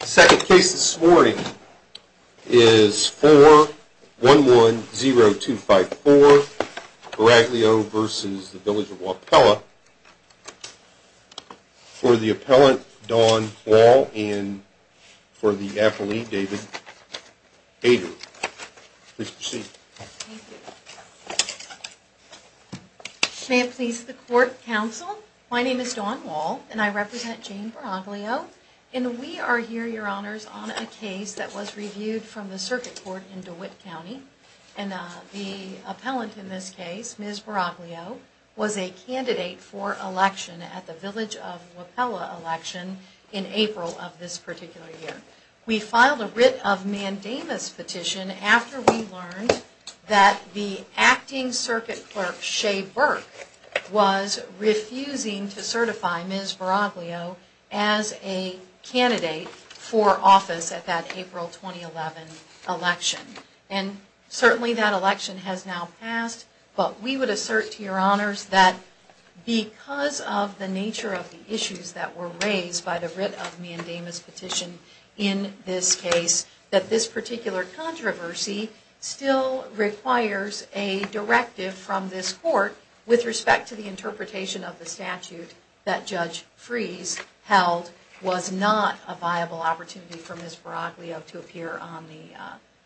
The second case this morning is 4110254, Braglio v. Village of Wapella, for the appellant Dawn Wall and for the appellee David Hader. Please proceed. Thank you. May it please the court counsel, my name is Dawn Wall and I represent Jane Braglio and we are here, your honors, on a case that was reviewed from the circuit court in DeWitt County and the appellant in this case, Ms. Braglio, was a candidate for election at the Village of Wapella election in April of this particular year. We filed a writ of mandamus petition after we learned that the acting circuit clerk, Shea Burke, was refusing to certify Ms. Braglio as a candidate for office at that April 2011 election. And certainly that election has now passed, but we would assert to your honors that because of the nature of the issues that were raised by the writ of mandamus petition in this case, that this particular controversy still requires a directive from this court with respect to the interpretation of the statute that Judge Freese held was not a viable opportunity for Ms. Braglio to appear on the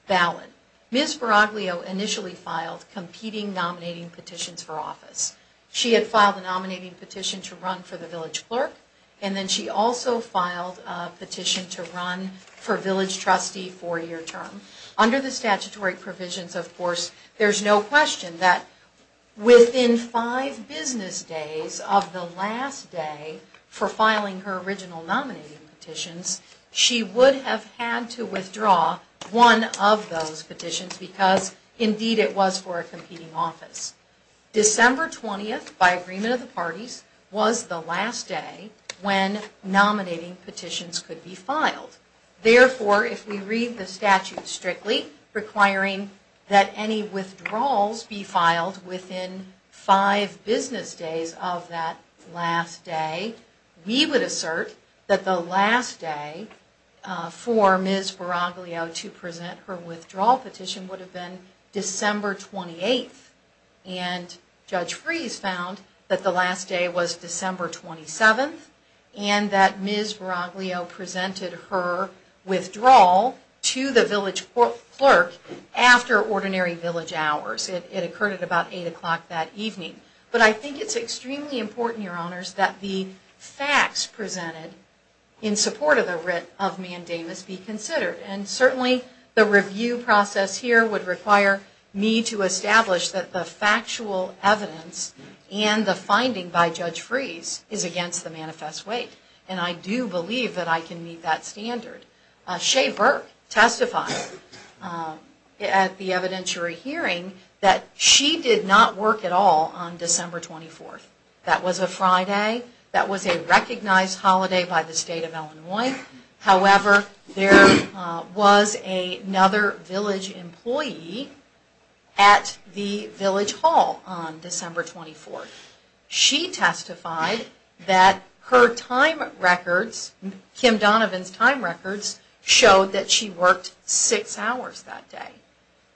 ballot. Ms. Braglio initially filed competing nominating petitions for office. She had filed a nominating petition to run for the village clerk and then she also filed a petition to run for village trustee four year term. Under the statutory provisions, of course, there's no question that within five business days of the last day for filing her original nominating petitions, she would have had to withdraw one of those petitions because indeed it was for a competing office. December 20th, by agreement of the parties, was the last day when nominating petitions could be filed. Therefore, if we read the statute strictly requiring that any withdrawals be filed within five business days of that last day, we would assert that the last day for Ms. Braglio to present her withdrawal petition would have been December 28th. And Judge Freese found that the last day was December 27th and that Ms. Braglio presented her withdrawal to the village clerk after ordinary village hours. It occurred at about 8 o'clock that evening. But I think it's extremely important, your honors, that the facts presented in support of the writ of mandamus be considered. And certainly the review process here would require me to establish that the factual evidence and the finding by Judge Freese is against the manifest weight. And I do believe that I can meet that standard. Shea Burke testified at the evidentiary hearing that she did not work at all on December 24th. That was a Friday, that was a recognized holiday by the state of Illinois. However, there was another village employee at the village hall on December 24th. She testified that her time records, Kim Donovan's time records, showed that she worked six hours that day.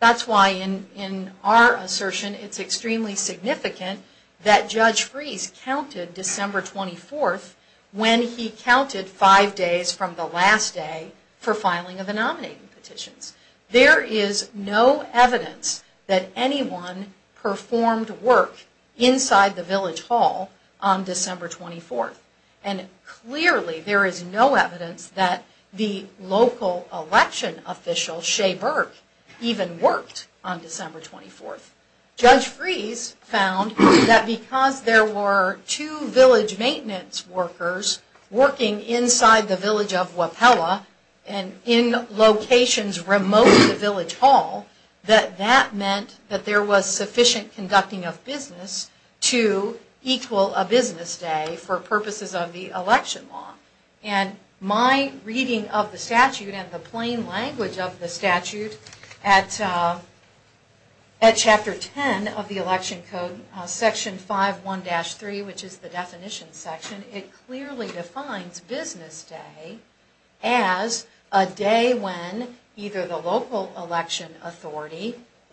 That's why in our assertion it's extremely significant that Judge Freese counted December 24th when he counted five days from the last day for filing of the nominating petitions. There is no evidence that anyone performed work inside the village hall on December 24th. And clearly there is no evidence that the local election official, Shea Burke, even worked on December 24th. Judge Freese found that because there were two village maintenance workers working inside the village of Wapella and in locations remote to the village hall, that that meant that there was sufficient conducting of business to equal a business day for purposes of the election law. And my reading of the statute and the plain language of the statute at Chapter 10 of the Election Code, Section 5.1-3, which is the definition section, it clearly defines business day as a day when either the local election official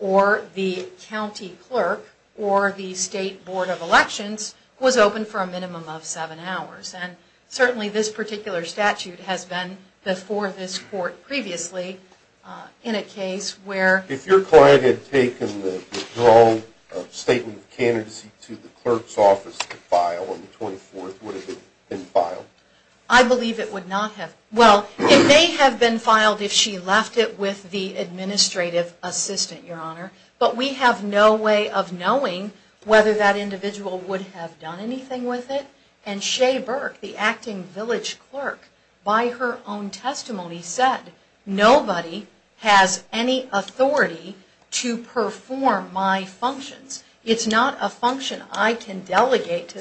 or the county clerk or the state board of elections was open for a minimum of seven hours. And certainly this particular statute has been before this court previously in a case where... I believe it would not have... Well, it may have been filed if she left it with the administrative assistant, Your Honor, but we have no way of knowing whether that individual would have done anything with it. And Shea Burke, the acting village clerk, by her own testimony said, nobody has any authority to perform my functions. It's not a function I can delegate.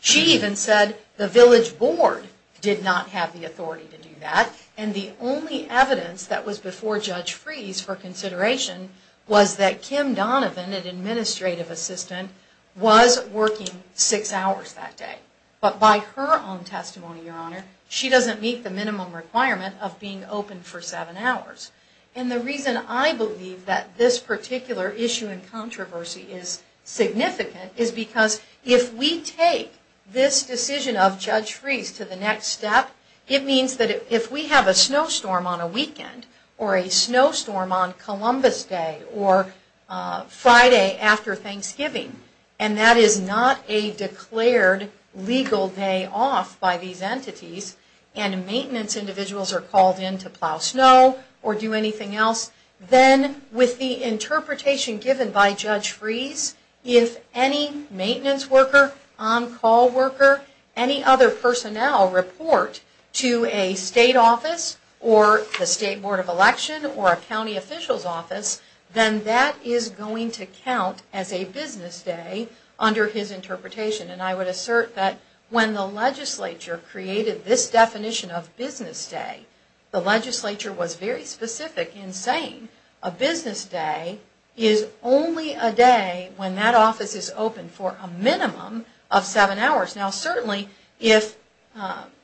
She even said the village board did not have the authority to do that. And the only evidence that was before Judge Freese for consideration was that Kim Donovan, an administrative assistant, was working six hours that day. But by her own testimony, Your Honor, she doesn't meet the minimum requirement of being open for seven hours. And the reason I believe that this particular issue and controversy is significant is because if we take this decision of Judge Freese to the next step, it means that if we have a snowstorm on a weekend, or a snowstorm on Columbus Day, or Friday after Thanksgiving, and that is not a declared legal day off by these entities, and maintenance individuals are called in to plow snow, or do anything else, then with the interpretation given by Judge Freese, if any maintenance worker, on-call worker, any other personnel report to a state office, or the State Board of Election, or a county official's office, then that is going to count as a business day under his interpretation. And I would assert that when the legislature created this definition of business day, the legislature was very specific in saying a business day is only a day when that office is open for a minimum of seven hours. Now certainly, if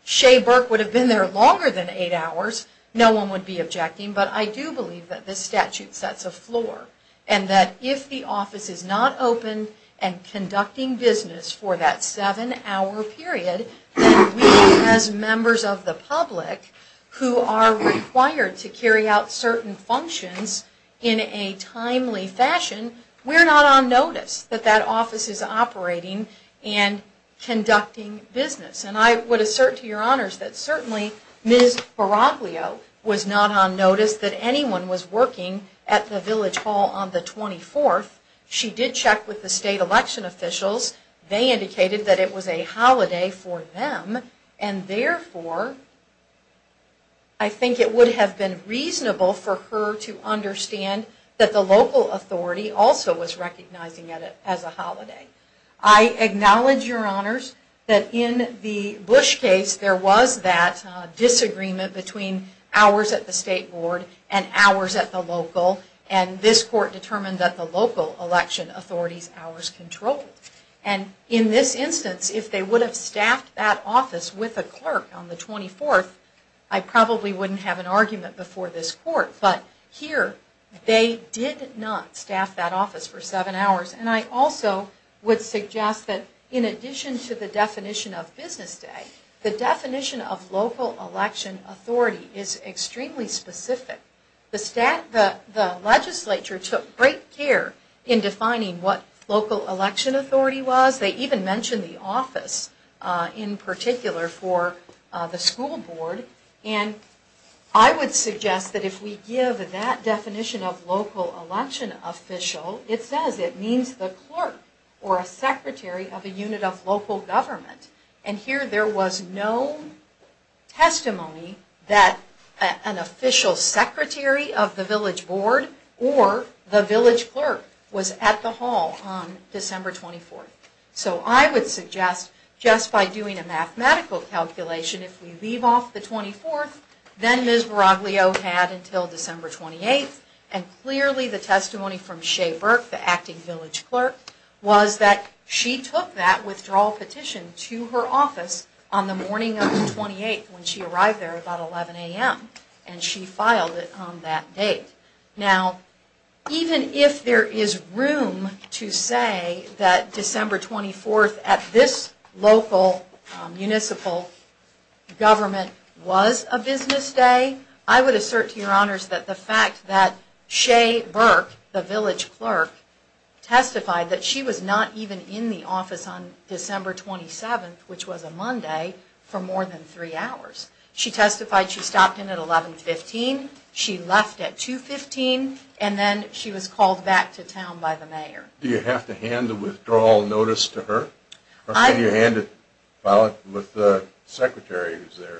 Shea Burke would have been there longer than eight hours, no one would be objecting, but I do believe that this statute sets a floor. And that if the office is not open and conducting business for that seven hour period, then we as members of the public, who are required to carry out certain functions in a timely fashion, we're not on notice that that office is operating and conducting business. And I would assert to your honors that certainly Ms. Baraglio was not on notice that anyone was working at the Village Hall on the 24th. She did check with the state election officials. They indicated that it was a holiday for them, and therefore, I think it would have been reasonable for her to understand that the local authority also was recognizing it as a holiday. I acknowledge, your honors, that in the Bush case, there was that disagreement between hours at the state board and hours at the local, and this court determined that the local election authority's hours controlled. And in this instance, if they would have staffed that office with a clerk on the 24th, I probably wouldn't have an argument before this court. But here, they did not staff that office for seven hours. And I also would suggest that in addition to the definition of business day, the definition of local election authority is extremely specific. The legislature took great care in defining what local election authority was. They even mentioned the office in particular for the school board. And I would suggest that if we give that definition of local election official, it says it means the clerk or a secretary of a unit of local government. And here, there was no testimony that an official secretary of the village board or the village clerk was at the hall on December 24th. So I would suggest, just by doing a mathematical calculation, if we leave off the 24th, then Ms. Baraglio had until December 28th, and clearly the testimony from Shea Burke, the acting village clerk, was that she took that withdrawal petition to her office on the morning of the 28th when she arrived there about 11 a.m. And she filed it on that date. Now, even if there is room to say that December 24th at this local municipal government was a business day, I would assert to your honors that the fact that Shea Burke, the village clerk, testified that she was not even in the office on December 27th, which was a Monday, for more than three hours. She testified she stopped in at 11.15, she left at 2.15, and then she was called back to town by the mayor. Do you have to hand the withdrawal notice to her? Or can you hand it with the secretary who's there?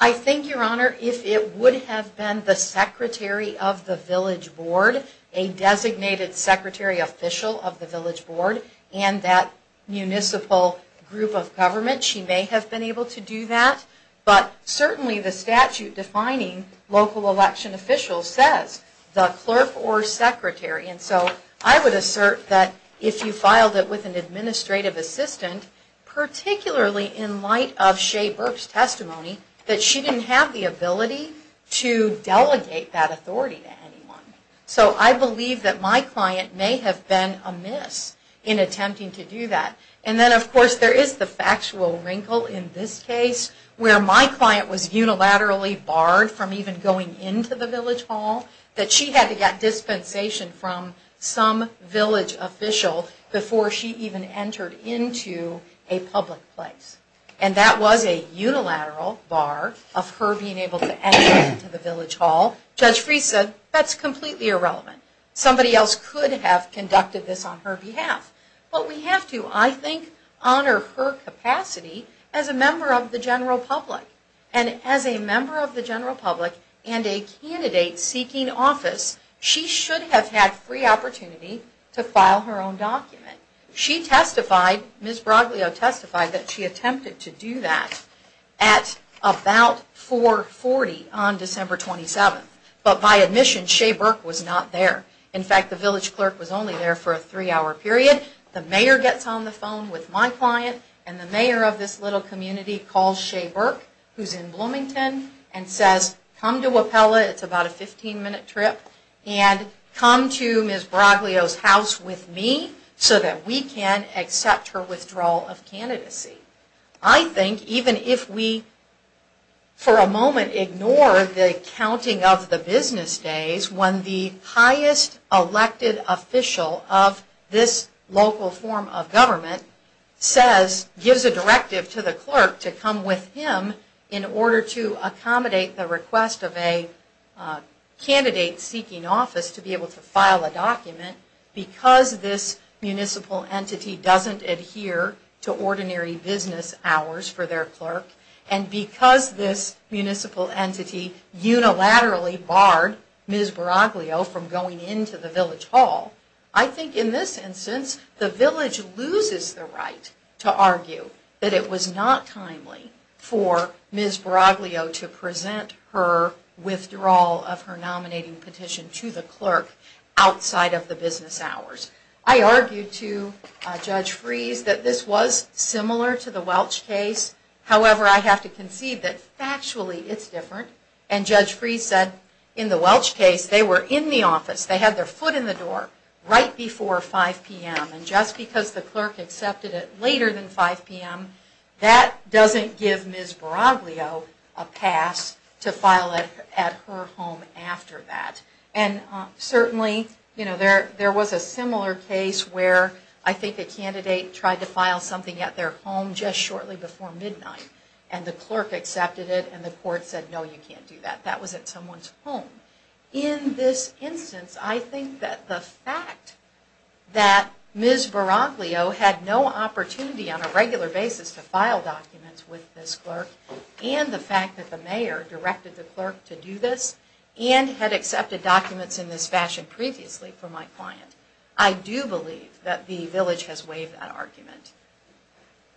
I think, your honor, if it would have been the secretary of the village board, a designated secretary official of the village board, and that municipal group of government, she may have been able to do that. But certainly the statute defining local election officials says the clerk or secretary. And so I would assert that if you filed it with an administrative assistant, particularly in light of Shea Burke's testimony, that she didn't have the ability to delegate that authority to anyone. So I believe that my client may have been amiss in attempting to do that. And then, of course, there is the factual wrinkle in this case, where my client was unilaterally barred from even going into the village hall. That she had to get dispensation from some village official before she even entered into a public place. And that was a unilateral bar of her being able to enter into the village hall. Judge Freese said, that's completely irrelevant. Somebody else could have conducted this on her behalf. But we have to, I think, honor her capacity as a member of the general public. And as a member of the general public, and a candidate seeking office, she should have had free opportunity to file her own document. She testified, Ms. Broglio testified, that she attempted to do that at about 440 on December 27th. But by admission, Shea Burke was not there. In fact, the village clerk was only there for a three hour period. The mayor gets on the phone with my client, and the mayor of this little community calls Shea Burke, who's in Bloomington, and says, come to Wapella, it's about a 15 minute trip, and come to Ms. Broglio's house with me, so that we can accept her withdrawal of candidacy. I think, even if we, for a moment, ignore the counting of the business days, when the highest elected official of this local form of government says, gives a directive to the clerk to come with him, in order to accommodate the request of a candidate seeking office to be able to file a document, because this municipal entity doesn't adhere to ordinary business hours for their clerk, and because this municipal entity unilaterally barred Ms. Broglio from going into the village hall, I think in this instance, the village loses the right to argue that it was not timely for Ms. Broglio to present her withdrawal of her nominating petition to the clerk outside of the business hours. I argued to Judge Freese that this was similar to the Welch case, however, I have to concede that factually it's different, and Judge Freese said, in the Welch case, they were in the office, they had their foot in the door, right before 5 p.m., and just because the clerk accepted it later than 5 p.m., that doesn't give Ms. Broglio a pass to file at her home after that. And certainly, there was a similar case where I think a candidate tried to file something at their home just shortly before midnight, and the clerk accepted it, and the court said, no, you can't do that, that was at someone's home. In this instance, I think that the fact that Ms. Broglio had no opportunity on a regular basis to file documents with this clerk, and the fact that the mayor directed the clerk to do this, and had accepted documents in this fashion previously for my client, I do believe that the village has waived that argument.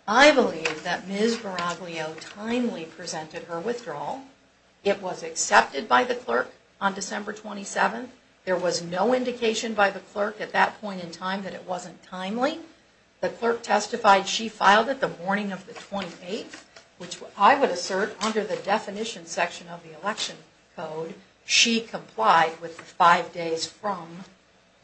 I believe that Ms. Broglio timely presented her withdrawal. It was accepted by the clerk on December 27th. There was no indication by the clerk at that point in time that it wasn't timely. The clerk testified she filed it the morning of the 28th, which I would assert, under the definition section of the election code, she complied with the five days from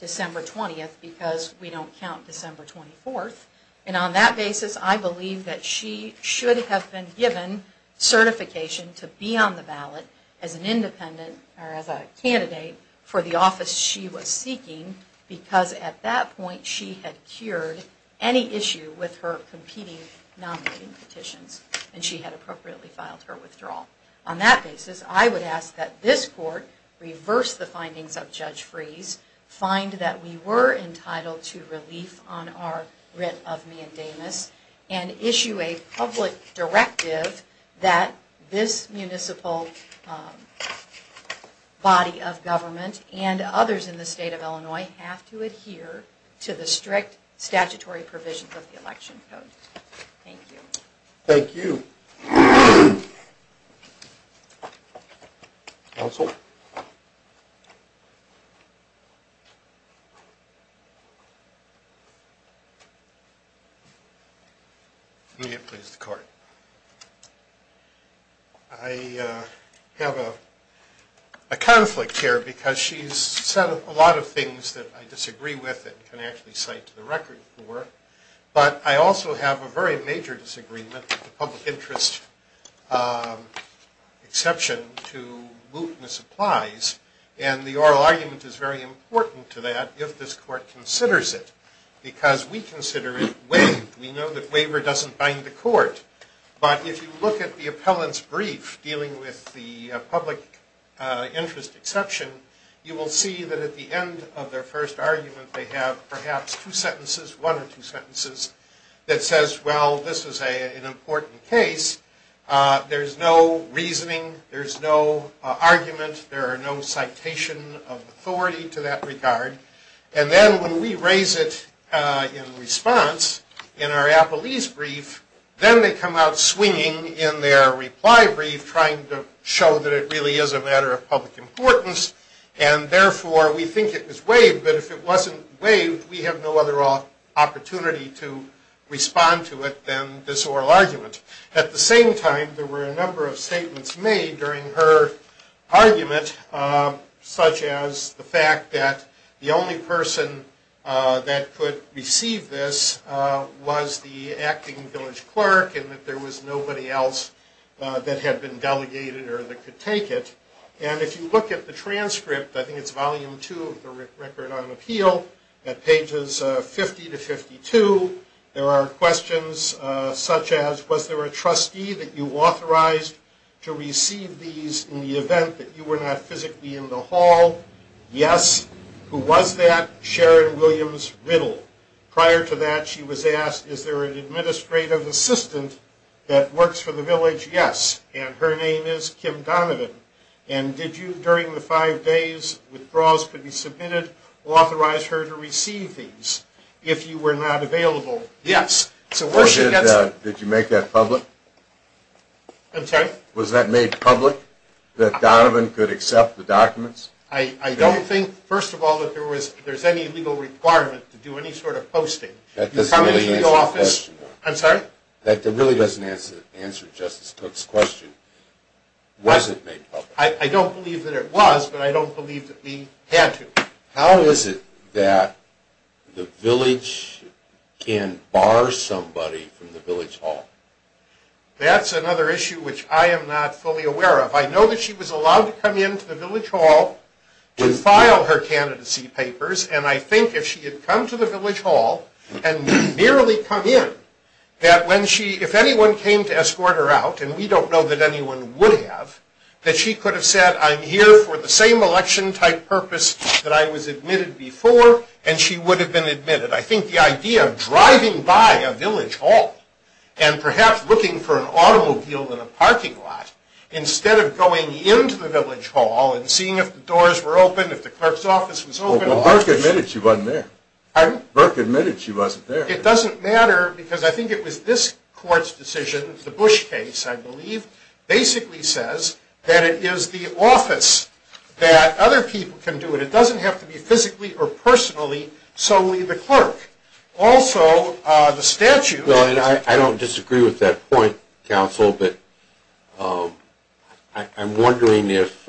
December 20th, because we don't count December 24th. And on that basis, I believe that she should have been given certification to be on the ballot as an independent, or as a candidate for the office she was seeking, because at that point she had cured any issue with her competing nominating petitions, and she had appropriately filed her withdrawal. On that basis, I would ask that this court reverse the findings of Judge Freese, find that we were entitled to relief on our writ of mandamus, and issue a public directive that this municipal body of government and others in the state of Illinois have to adhere to the strict statutory provisions of the election code. Thank you. Thank you. Counsel? Let me please the court. I have a conflict here because she's said a lot of things that I disagree with and can actually cite to the record for, but I also have a very major disagreement with the public interest exception to mootness applies, and the oral argument is very important to that if this court considers it, because we consider it waived. We know that waiver doesn't bind the court, but if you look at the appellant's brief dealing with the public interest exception, you will see that at the end of their first argument they have perhaps two sentences, one or two sentences that says, well, this is an important case. There's no reasoning. There's no argument. There are no citation of authority to that regard, and then when we raise it in response in our appellee's brief, then they come out swinging in their reply brief trying to show that it really is a matter of public importance, and therefore we think it was waived, but if it wasn't waived, we have no other opportunity to respond to it than this oral argument. At the same time, there were a number of statements made during her argument, such as the fact that the only person that could receive this was the acting village clerk and that there was nobody else that had been delegated or that could take it, and if you look at the transcript, I think it's volume two of the Record on Appeal, at pages 50 to 52, there are questions such as, was there a trustee that you authorized to receive these in the event that you were not physically in the hall? Yes. Who was that? Sharon Williams Riddle. Prior to that, she was asked, is there an administrative assistant that works for the village? Yes, and her name is Kim Donovan, and did you, during the five days withdrawals could be submitted, authorize her to receive these if you were not available? Yes. Did you make that public? I'm sorry? Was that made public, that Donovan could accept the documents? I don't think, first of all, that there's any legal requirement to do any sort of posting. That doesn't really answer the question. I'm sorry? That really doesn't answer Justice Cook's question. Was it made public? I don't believe that it was, but I don't believe that we had to. How is it that the village can bar somebody from the village hall? That's another issue which I am not fully aware of. I know that she was allowed to come into the village hall to file her candidacy papers, and I think if she had come to the village hall and merely come in, that when she, if anyone came to escort her out, and we don't know that anyone would have, that she could have said, I'm here for the same election-type purpose that I was admitted before, and she would have been admitted. I think the idea of driving by a village hall and perhaps looking for an automobile in a parking lot, instead of going into the village hall and seeing if the doors were open, if the clerk's office was open. Well, Burke admitted she wasn't there. Pardon? Burke admitted she wasn't there. It doesn't matter because I think it was this court's decision, the Bush case, I believe, basically says that it is the office that other people can do it. It doesn't have to be physically or personally, solely the clerk. Also, the statute. Well, I don't disagree with that point, counsel, but I'm wondering if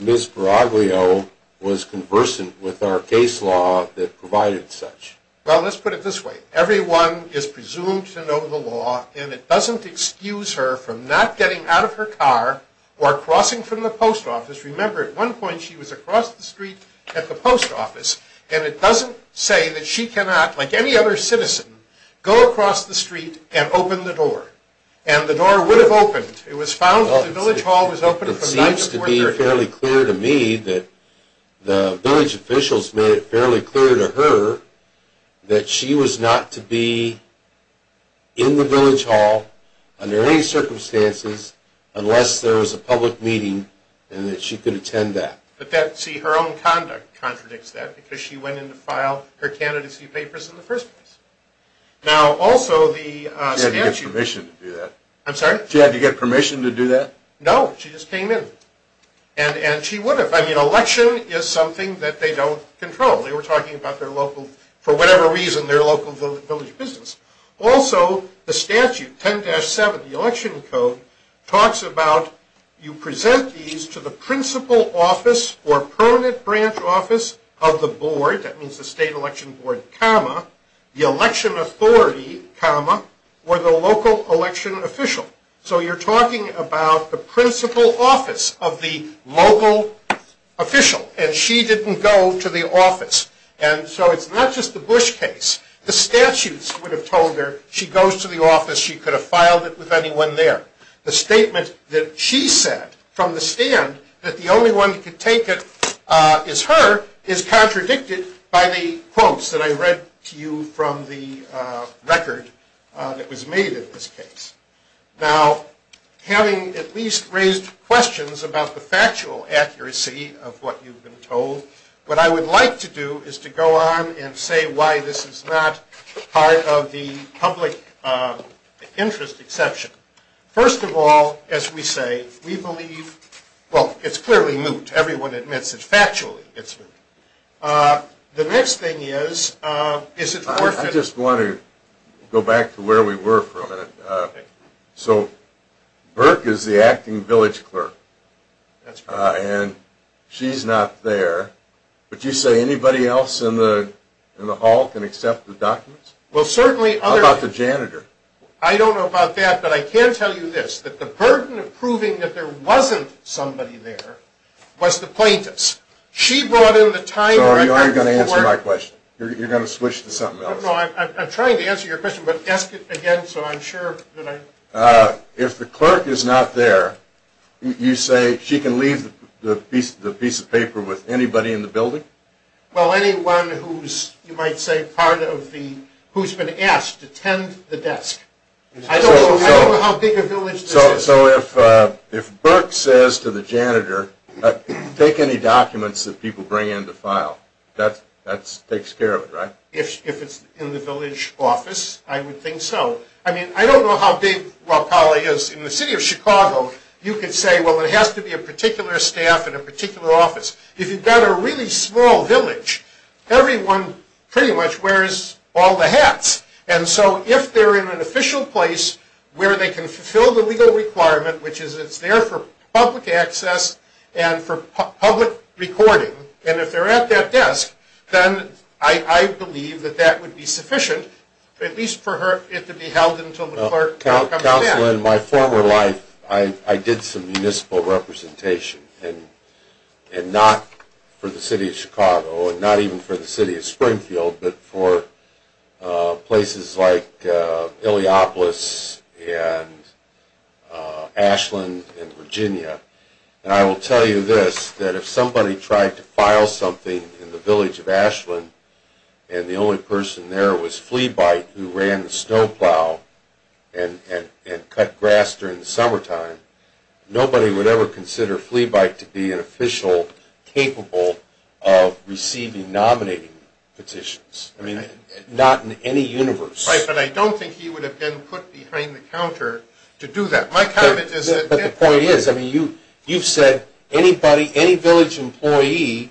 Ms. Peraglio was conversant with our case law that provided such. Well, let's put it this way. Everyone is presumed to know the law, and it doesn't excuse her from not getting out of her car or crossing from the post office. Remember, at one point she was across the street at the post office, and it doesn't say that she cannot, like any other citizen, go across the street and open the door, and the door would have opened. It was found that the village hall was open. It seems to be fairly clear to me that the village officials made it fairly clear to her that she was not to be in the village hall under any circumstances unless there was a public meeting and that she could attend that. But that, see, her own conduct contradicts that, because she went in to file her candidacy papers in the first place. Now, also the statute... She had to get permission to do that. I'm sorry? She had to get permission to do that? No, she just came in. And she would have. I mean, election is something that they don't control. They were talking about their local, for whatever reason, their local village business. Also, the statute, 10-7, the election code, talks about you present these to the principal office or permanent branch office of the board, that means the state election board, comma, the election authority, comma, or the local election official. So you're talking about the principal office of the local official, and she didn't go to the office. And so it's not just the Bush case. The statutes would have told her she goes to the office, she could have filed it with anyone there. The statement that she said from the stand that the only one who could take it is her is contradicted by the quotes that I read to you from the record that was made in this case. Now, having at least raised questions about the factual accuracy of what you've been told, what I would like to do is to go on and say why this is not part of the public interest exception. First of all, as we say, we believe, well, it's clearly moot. Everyone admits it factually, it's moot. The next thing is, is it worth it? I just want to go back to where we were for a minute. So Burke is the acting village clerk, and she's not there. But you say anybody else in the hall can accept the documents? How about the janitor? I don't know about that, but I can tell you this, that the burden of proving that there wasn't somebody there was the plaintiff's. She brought in the time. So are you going to answer my question? You're going to switch to something else? No, I'm trying to answer your question, but ask it again so I'm sure. If the clerk is not there, you say she can leave the piece of paper with anybody in the building? Well, anyone who's, you might say, part of the, who's been asked to tend the desk. I don't know how big a village this is. So if Burke says to the janitor, take any documents that people bring in to file, that takes care of it, right? If it's in the village office, I would think so. I mean, I don't know how big Raqali is. In the city of Chicago, you could say, well, it has to be a particular staff in a particular office. If you've got a really small village, everyone pretty much wears all the hats. And so if they're in an official place where they can fulfill the legal requirement, which is it's there for public access and for public recording, and if they're at that desk, then I believe that that would be sufficient, at least for it to be held until the clerk comes in. As a councilman in my former life, I did some municipal representation, and not for the city of Chicago and not even for the city of Springfield, but for places like Iliopolis and Ashland and Virginia. And I will tell you this, that if somebody tried to file something in the village of Ashland and the only person there was Fleabike who ran the snowplow and cut grass during the summertime, nobody would ever consider Fleabike to be an official capable of receiving nominating petitions. I mean, not in any universe. Right, but I don't think he would have been put behind the counter to do that. But the point is, I mean, you've said anybody, any village employee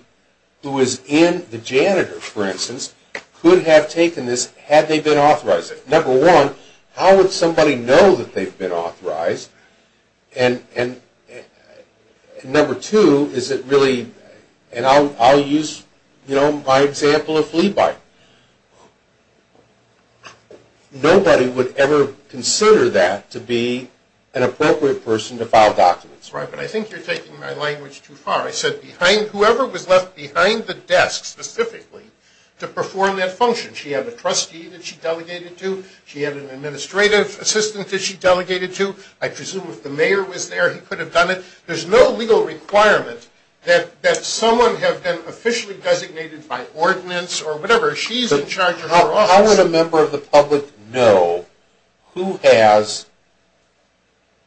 who is in the janitor, for instance, could have taken this had they been authorized. Number one, how would somebody know that they've been authorized? And number two, is it really, and I'll use, you know, my example of Fleabike. Nobody would ever consider that to be an appropriate person to file documents. Right, but I think you're taking my language too far. I said whoever was left behind the desk specifically to perform that function. She had a trustee that she delegated to. She had an administrative assistant that she delegated to. I presume if the mayor was there, he could have done it. There's no legal requirement that someone have been officially designated by ordinance or whatever, she's in charge of her office. How would a member of the public know who has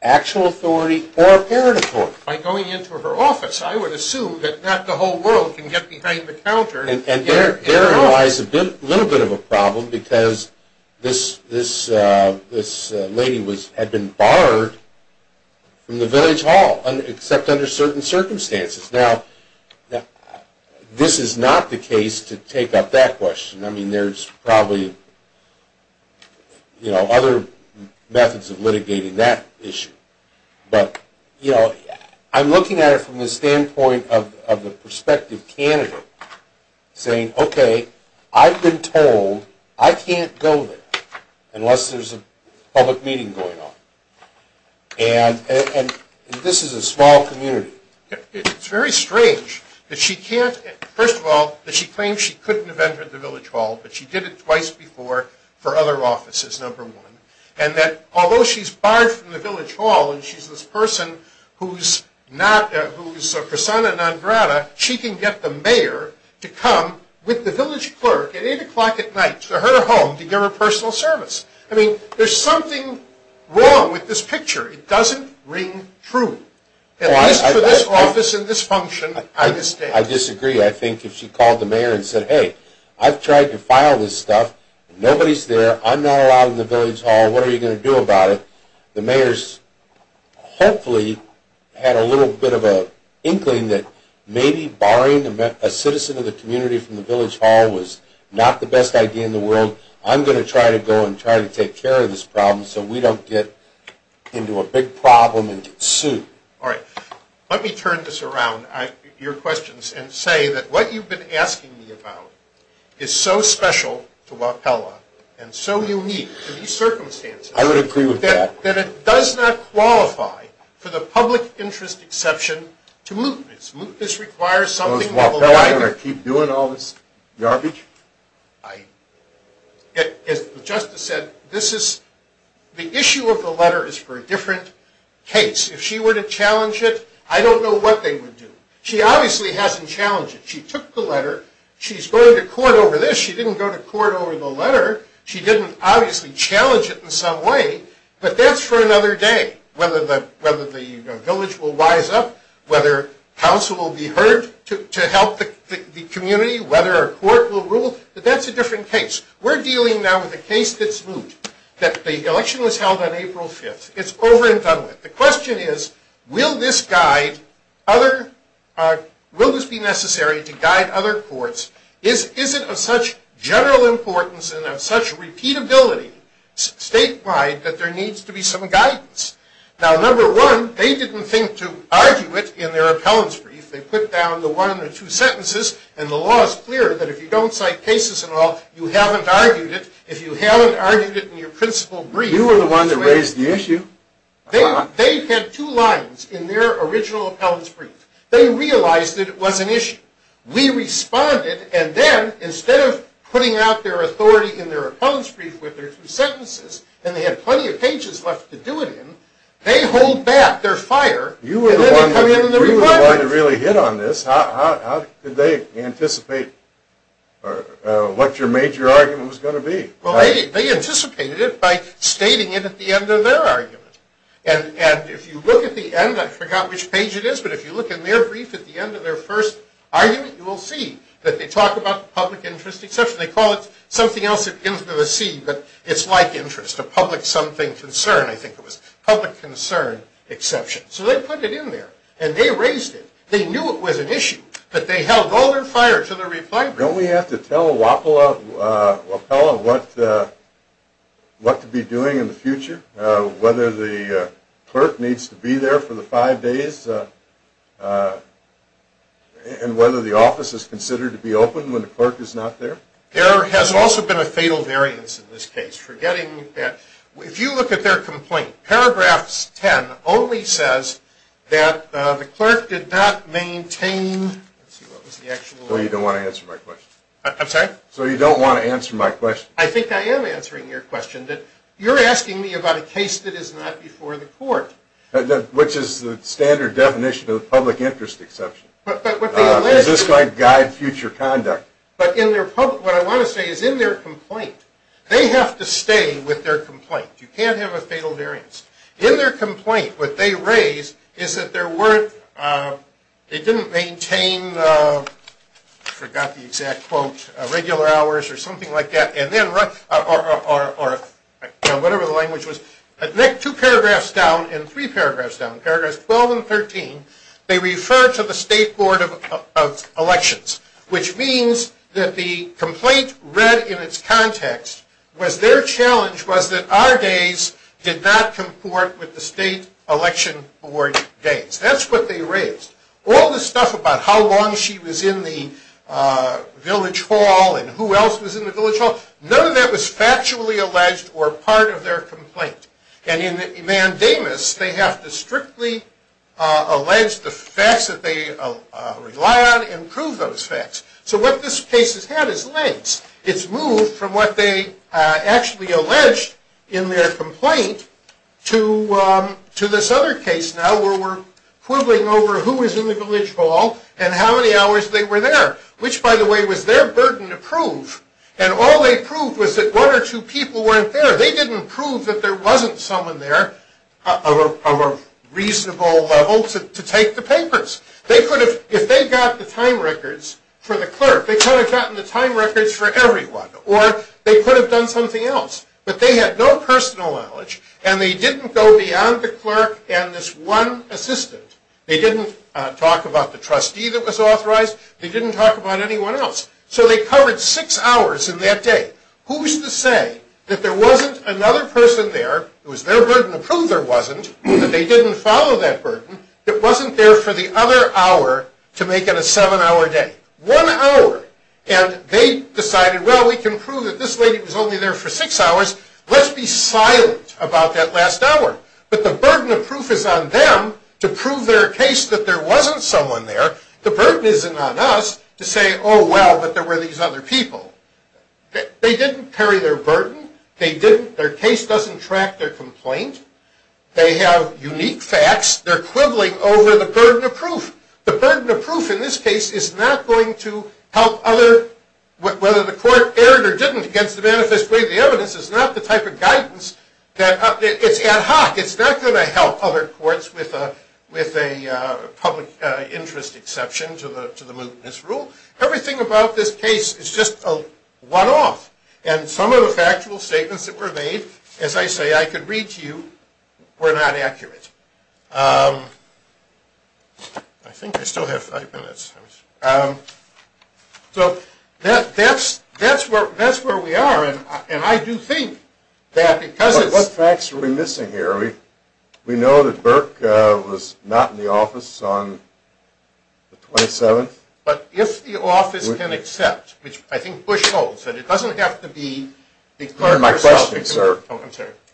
actual authority or apparent authority? By going into her office, I would assume that not the whole world can get behind the counter. And therein lies a little bit of a problem because this lady had been borrowed from the village hall, except under certain circumstances. Now, this is not the case to take up that question. I mean, there's probably, you know, other methods of litigating that issue. But, you know, I'm looking at it from the standpoint of the prospective candidate saying, okay, I've been told I can't go there unless there's a public meeting going on. And this is a small community. It's very strange that she can't, first of all, that she claims she couldn't have entered the village hall, but she did it twice before for other offices, number one, and that although she's barred from the village hall and she's this person who's persona non grata, she can get the mayor to come with the village clerk at 8 o'clock at night to her home to give her personal service. I mean, there's something wrong with this picture. It doesn't ring true. At least for this office and this function, I disagree. I disagree. I think if she called the mayor and said, hey, I've tried to file this stuff. Nobody's there. I'm not allowed in the village hall. What are you going to do about it? The mayor's hopefully had a little bit of an inkling that maybe barring a citizen of the community from the village hall was not the best idea in the world. So I'm going to try to go and try to take care of this problem so we don't get into a big problem and get sued. All right. Let me turn this around, your questions, and say that what you've been asking me about is so special to Wapella and so unique to these circumstances that it does not qualify for the public interest exception to mootness. Mootness requires something of a liability. Am I going to keep doing all this garbage? As the justice said, the issue of the letter is for a different case. If she were to challenge it, I don't know what they would do. She obviously hasn't challenged it. She took the letter. She's going to court over this. She didn't go to court over the letter. She didn't obviously challenge it in some way, but that's for another day, whether the village will rise up, whether counsel will be heard to help the community, whether a court will rule. But that's a different case. We're dealing now with a case that's moot, that the election was held on April 5th. It's over and done with. The question is, will this be necessary to guide other courts? Is it of such general importance and of such repeatability statewide that there needs to be some guidance? Now, number one, they didn't think to argue it in their appellant's brief. They put down the one or two sentences. And the law is clear that if you don't cite cases at all, you haven't argued it. If you haven't argued it in your principal brief. You were the one that raised the issue. They had two lines in their original appellant's brief. They realized that it was an issue. We responded, and then instead of putting out their authority in their appellant's brief with their two sentences, and they had plenty of pages left to do it in, they hold back their fire. You were the one that really hit on this. How did they anticipate what your major argument was going to be? Well, they anticipated it by stating it at the end of their argument. And if you look at the end, I forgot which page it is, but if you look in their brief at the end of their first argument, you will see that they talk about the public interest exception. They call it something else that ends with a C, but it's like interest, a public something concern. I think it was public concern exception. So they put it in there, and they raised it. They knew it was an issue, but they held all their fire to the reply brief. Don't we have to tell a WAPLA appellant what to be doing in the future, whether the clerk needs to be there for the five days, and whether the office is considered to be open when the clerk is not there? There has also been a fatal variance in this case. Forgetting that if you look at their complaint, paragraphs 10 only says that the clerk did not maintain... Let's see, what was the actual... Well, you don't want to answer my question. I'm sorry? So you don't want to answer my question. I think I am answering your question. You're asking me about a case that is not before the court. Which is the standard definition of a public interest exception. Is this going to guide future conduct? But what I want to say is in their complaint, they have to stay with their complaint. You can't have a fatal variance. In their complaint, what they raised is that they didn't maintain, I forgot the exact quote, regular hours or something like that, or whatever the language was. Two paragraphs down and three paragraphs down, paragraphs 12 and 13, they refer to the State Board of Elections, which means that the complaint read in its context was their challenge was that our days did not comport with the State Election Board days. That's what they raised. All the stuff about how long she was in the Village Hall and who else was in the Village Hall, none of that was factually alleged or part of their complaint. And in the mandamus, they have to strictly allege the facts that they rely on and prove those facts. So what this case has had is lengths. It's moved from what they actually alleged in their complaint to this other case now where we're quibbling over who was in the Village Hall and how many hours they were there. Which, by the way, was their burden to prove. And all they proved was that one or two people weren't there. They didn't prove that there wasn't someone there of a reasonable level to take the papers. They could have, if they got the time records for the clerk, they could have gotten the time records for everyone. Or they could have done something else. But they had no personal knowledge, and they didn't go beyond the clerk and this one assistant. They didn't talk about the trustee that was authorized. They didn't talk about anyone else. So they covered six hours in that day. Who's to say that there wasn't another person there, it was their burden to prove there wasn't, that they didn't follow that burden, that wasn't there for the other hour to make it a seven-hour day? One hour. And they decided, well, we can prove that this lady was only there for six hours. Let's be silent about that last hour. But the burden of proof is on them to prove their case that there wasn't someone there. The burden isn't on us to say, oh, well, but there were these other people. They didn't carry their burden. Their case doesn't track their complaint. They have unique facts. They're quibbling over the burden of proof. The burden of proof in this case is not going to help other, whether the court erred or didn't against the manifest way of the evidence, is not the type of guidance that, it's ad hoc. It's not going to help other courts with a public interest exception to the mootness rule. Everything about this case is just a one-off. And some of the factual statements that were made, as I say, I could read to you, were not accurate. I think I still have five minutes. So that's where we are. And I do think that because it's- What facts are we missing here? We know that Burke was not in the office on the 27th. But if the office can accept, which I think Bush holds, that it doesn't have to be the clerk-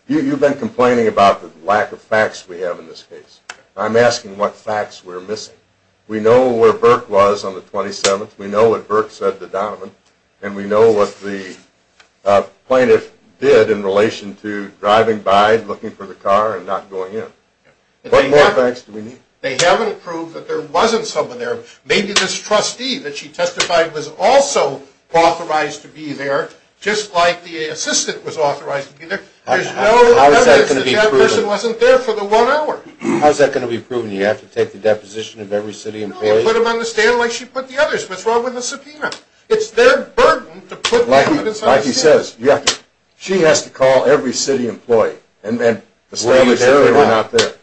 You've been complaining about the lack of facts we have in this case. I'm asking what facts we're missing. We know where Burke was on the 27th. We know what Burke said to Donovan. And we know what the plaintiff did in relation to driving by, looking for the car, and not going in. What more facts do we need? They haven't proved that there wasn't someone there. Maybe this trustee that she testified was also authorized to be there, just like the assistant was authorized to be there. There's no evidence that that person wasn't there for the one hour. How is that going to be proven? Do you have to take the deposition of every city employee? No, you put them on the stand like she put the others. What's wrong with the subpoena? It's their burden to put evidence on the stand. Like he says, she has to call every city employee and establish that they were not there.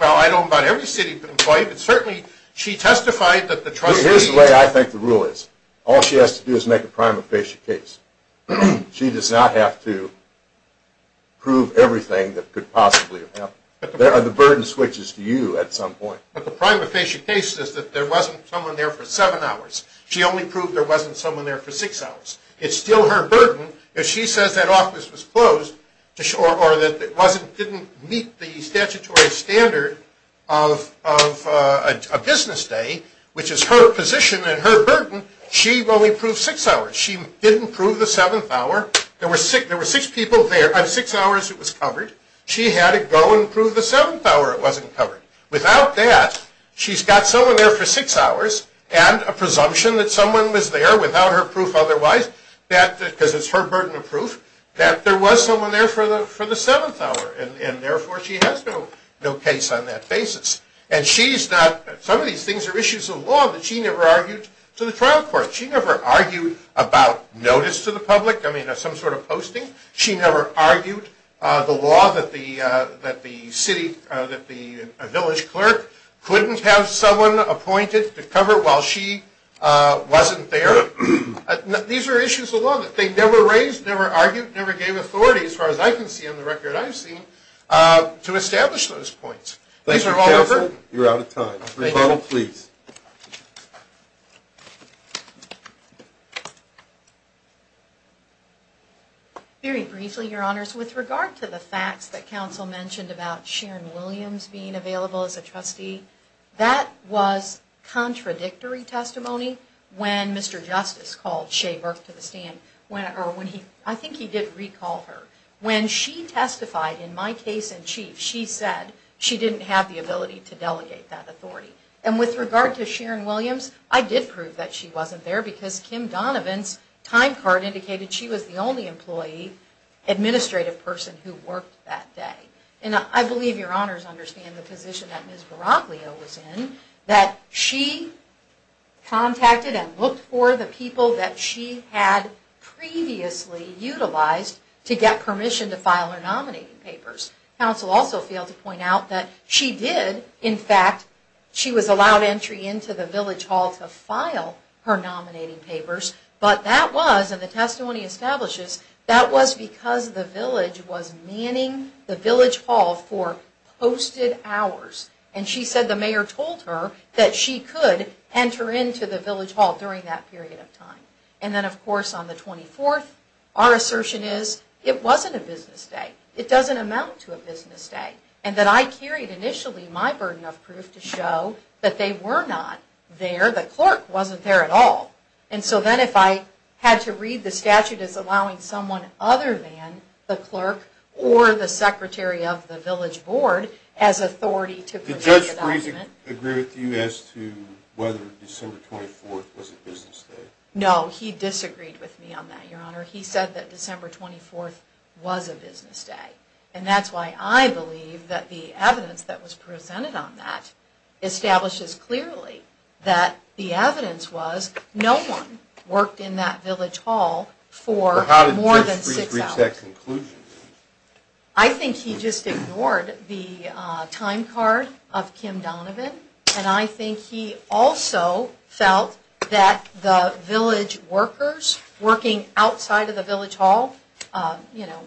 Well, I don't know about every city employee, but certainly she testified that the trustee- Here's the way I think the rule is. All she has to do is make a prima facie case. She does not have to prove everything that could possibly have happened. The burden switches to you at some point. But the prima facie case is that there wasn't someone there for seven hours. She only proved there wasn't someone there for six hours. It's still her burden. If she says that office was closed or that it didn't meet the statutory standard of a business day, which is her position and her burden, she only proved six hours. She didn't prove the seventh hour. There were six people there. Of six hours, it was covered. She had to go and prove the seventh hour it wasn't covered. Without that, she's got someone there for six hours and a presumption that someone was there without her proof otherwise, because it's her burden of proof, that there was someone there for the seventh hour, and therefore she has no case on that basis. Some of these things are issues of law that she never argued to the trial court. She never argued about notice to the public, some sort of posting. She never argued the law that a village clerk couldn't have someone appointed to cover while she wasn't there. These are issues of law that they never raised, never argued, never gave authority, as far as I can see on the record I've seen, to establish those points. These are all the burden. Thank you, counsel. Rebuttal, please. Very briefly, your honors. With regard to the facts that counsel mentioned about Sharon Williams being available as a trustee, that was contradictory testimony when Mr. Justice called Shea Burke to the stand. I think he did recall her. When she testified in my case in chief, she said she didn't have the ability to delegate that authority. And with regard to Sharon Williams, I did prove that she wasn't there because Kim Donovan's time card indicated she was the only employee, administrative person, who worked that day. And I believe your honors understand the position that Ms. Baraglio was in, that she contacted and looked for the people that she had previously utilized to get permission to file her nominating papers. Counsel also failed to point out that she did, in fact, she was allowed entry into the village hall to file her nominating papers, but that was, and the testimony establishes, that was because the village was manning the village hall for posted hours. And she said the mayor told her that she could enter into the village hall during that period of time. And then of course on the 24th, our assertion is it wasn't a business day. It doesn't amount to a business day. And that I carried initially my burden of proof to show that they were not there. The clerk wasn't there at all. And so then if I had to read the statute as allowing someone other than the clerk or the secretary of the village board as authority to project... Did Judge Friesen agree with you as to whether December 24th was a business day? No, he disagreed with me on that, your honor. He said that December 24th was a business day. And that's why I believe that the evidence that was presented on that establishes clearly that the evidence was no one worked in that village hall for more than six hours. How did Judge Friesen reach that conclusion? I think he just ignored the time card of Kim Donovan. And I think he also felt that the village workers working outside of the village hall, you know,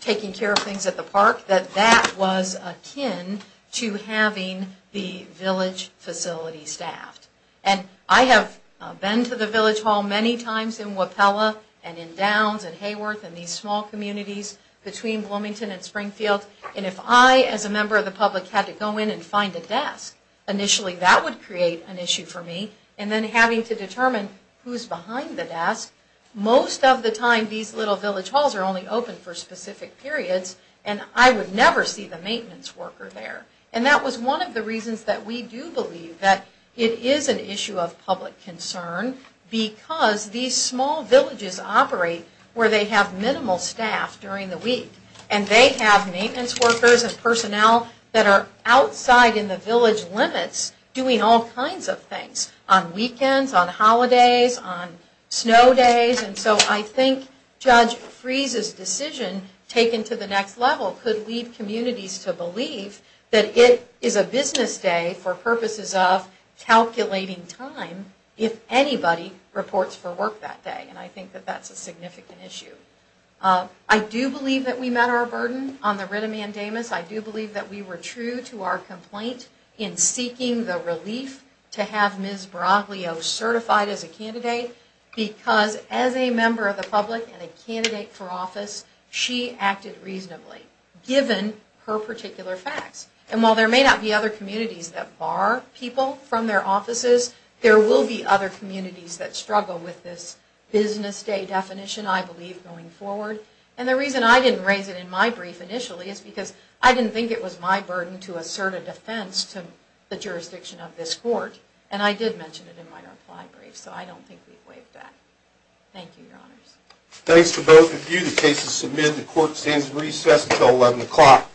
taking care of things at the park, that that was akin to having the village facility staffed. And I have been to the village hall many times in Wapella and in Downs and Hayworth and these small communities between Bloomington and Springfield. And if I as a member of the public had to go in and find a desk, initially that would create an issue for me. And then having to determine who's behind the desk, most of the time these little village halls are only open for specific periods. And I would never see the maintenance worker there. And that was one of the reasons that we do believe that it is an issue of public concern because these small villages operate where they have minimal staff during the week. And they have maintenance workers and personnel that are outside in the village limits doing all kinds of things on weekends, on holidays, on snow days. And so I think Judge Friesen's decision taken to the next level could lead communities to believe that it is a business day for purposes of calculating time if anybody reports for work that day. And I think that that's a significant issue. I do believe that we met our burden on the writ of mandamus. I do believe that we were true to our complaint in seeking the relief to have Ms. Braglio certified as a candidate. Because as a member of the public and a candidate for office, she acted reasonably, given her particular facts. And while there may not be other communities that bar people from their offices, there will be other communities that struggle with this business day definition, I believe, going forward. And the reason I didn't raise it in my brief initially is because I didn't think it was my burden to assert a defense to the jurisdiction of this court. And I did mention it in my reply brief, so I don't think we've waived that. Thank you, Your Honors. Thanks to both of you. The case is submitted. The court stands at recess until 11 o'clock.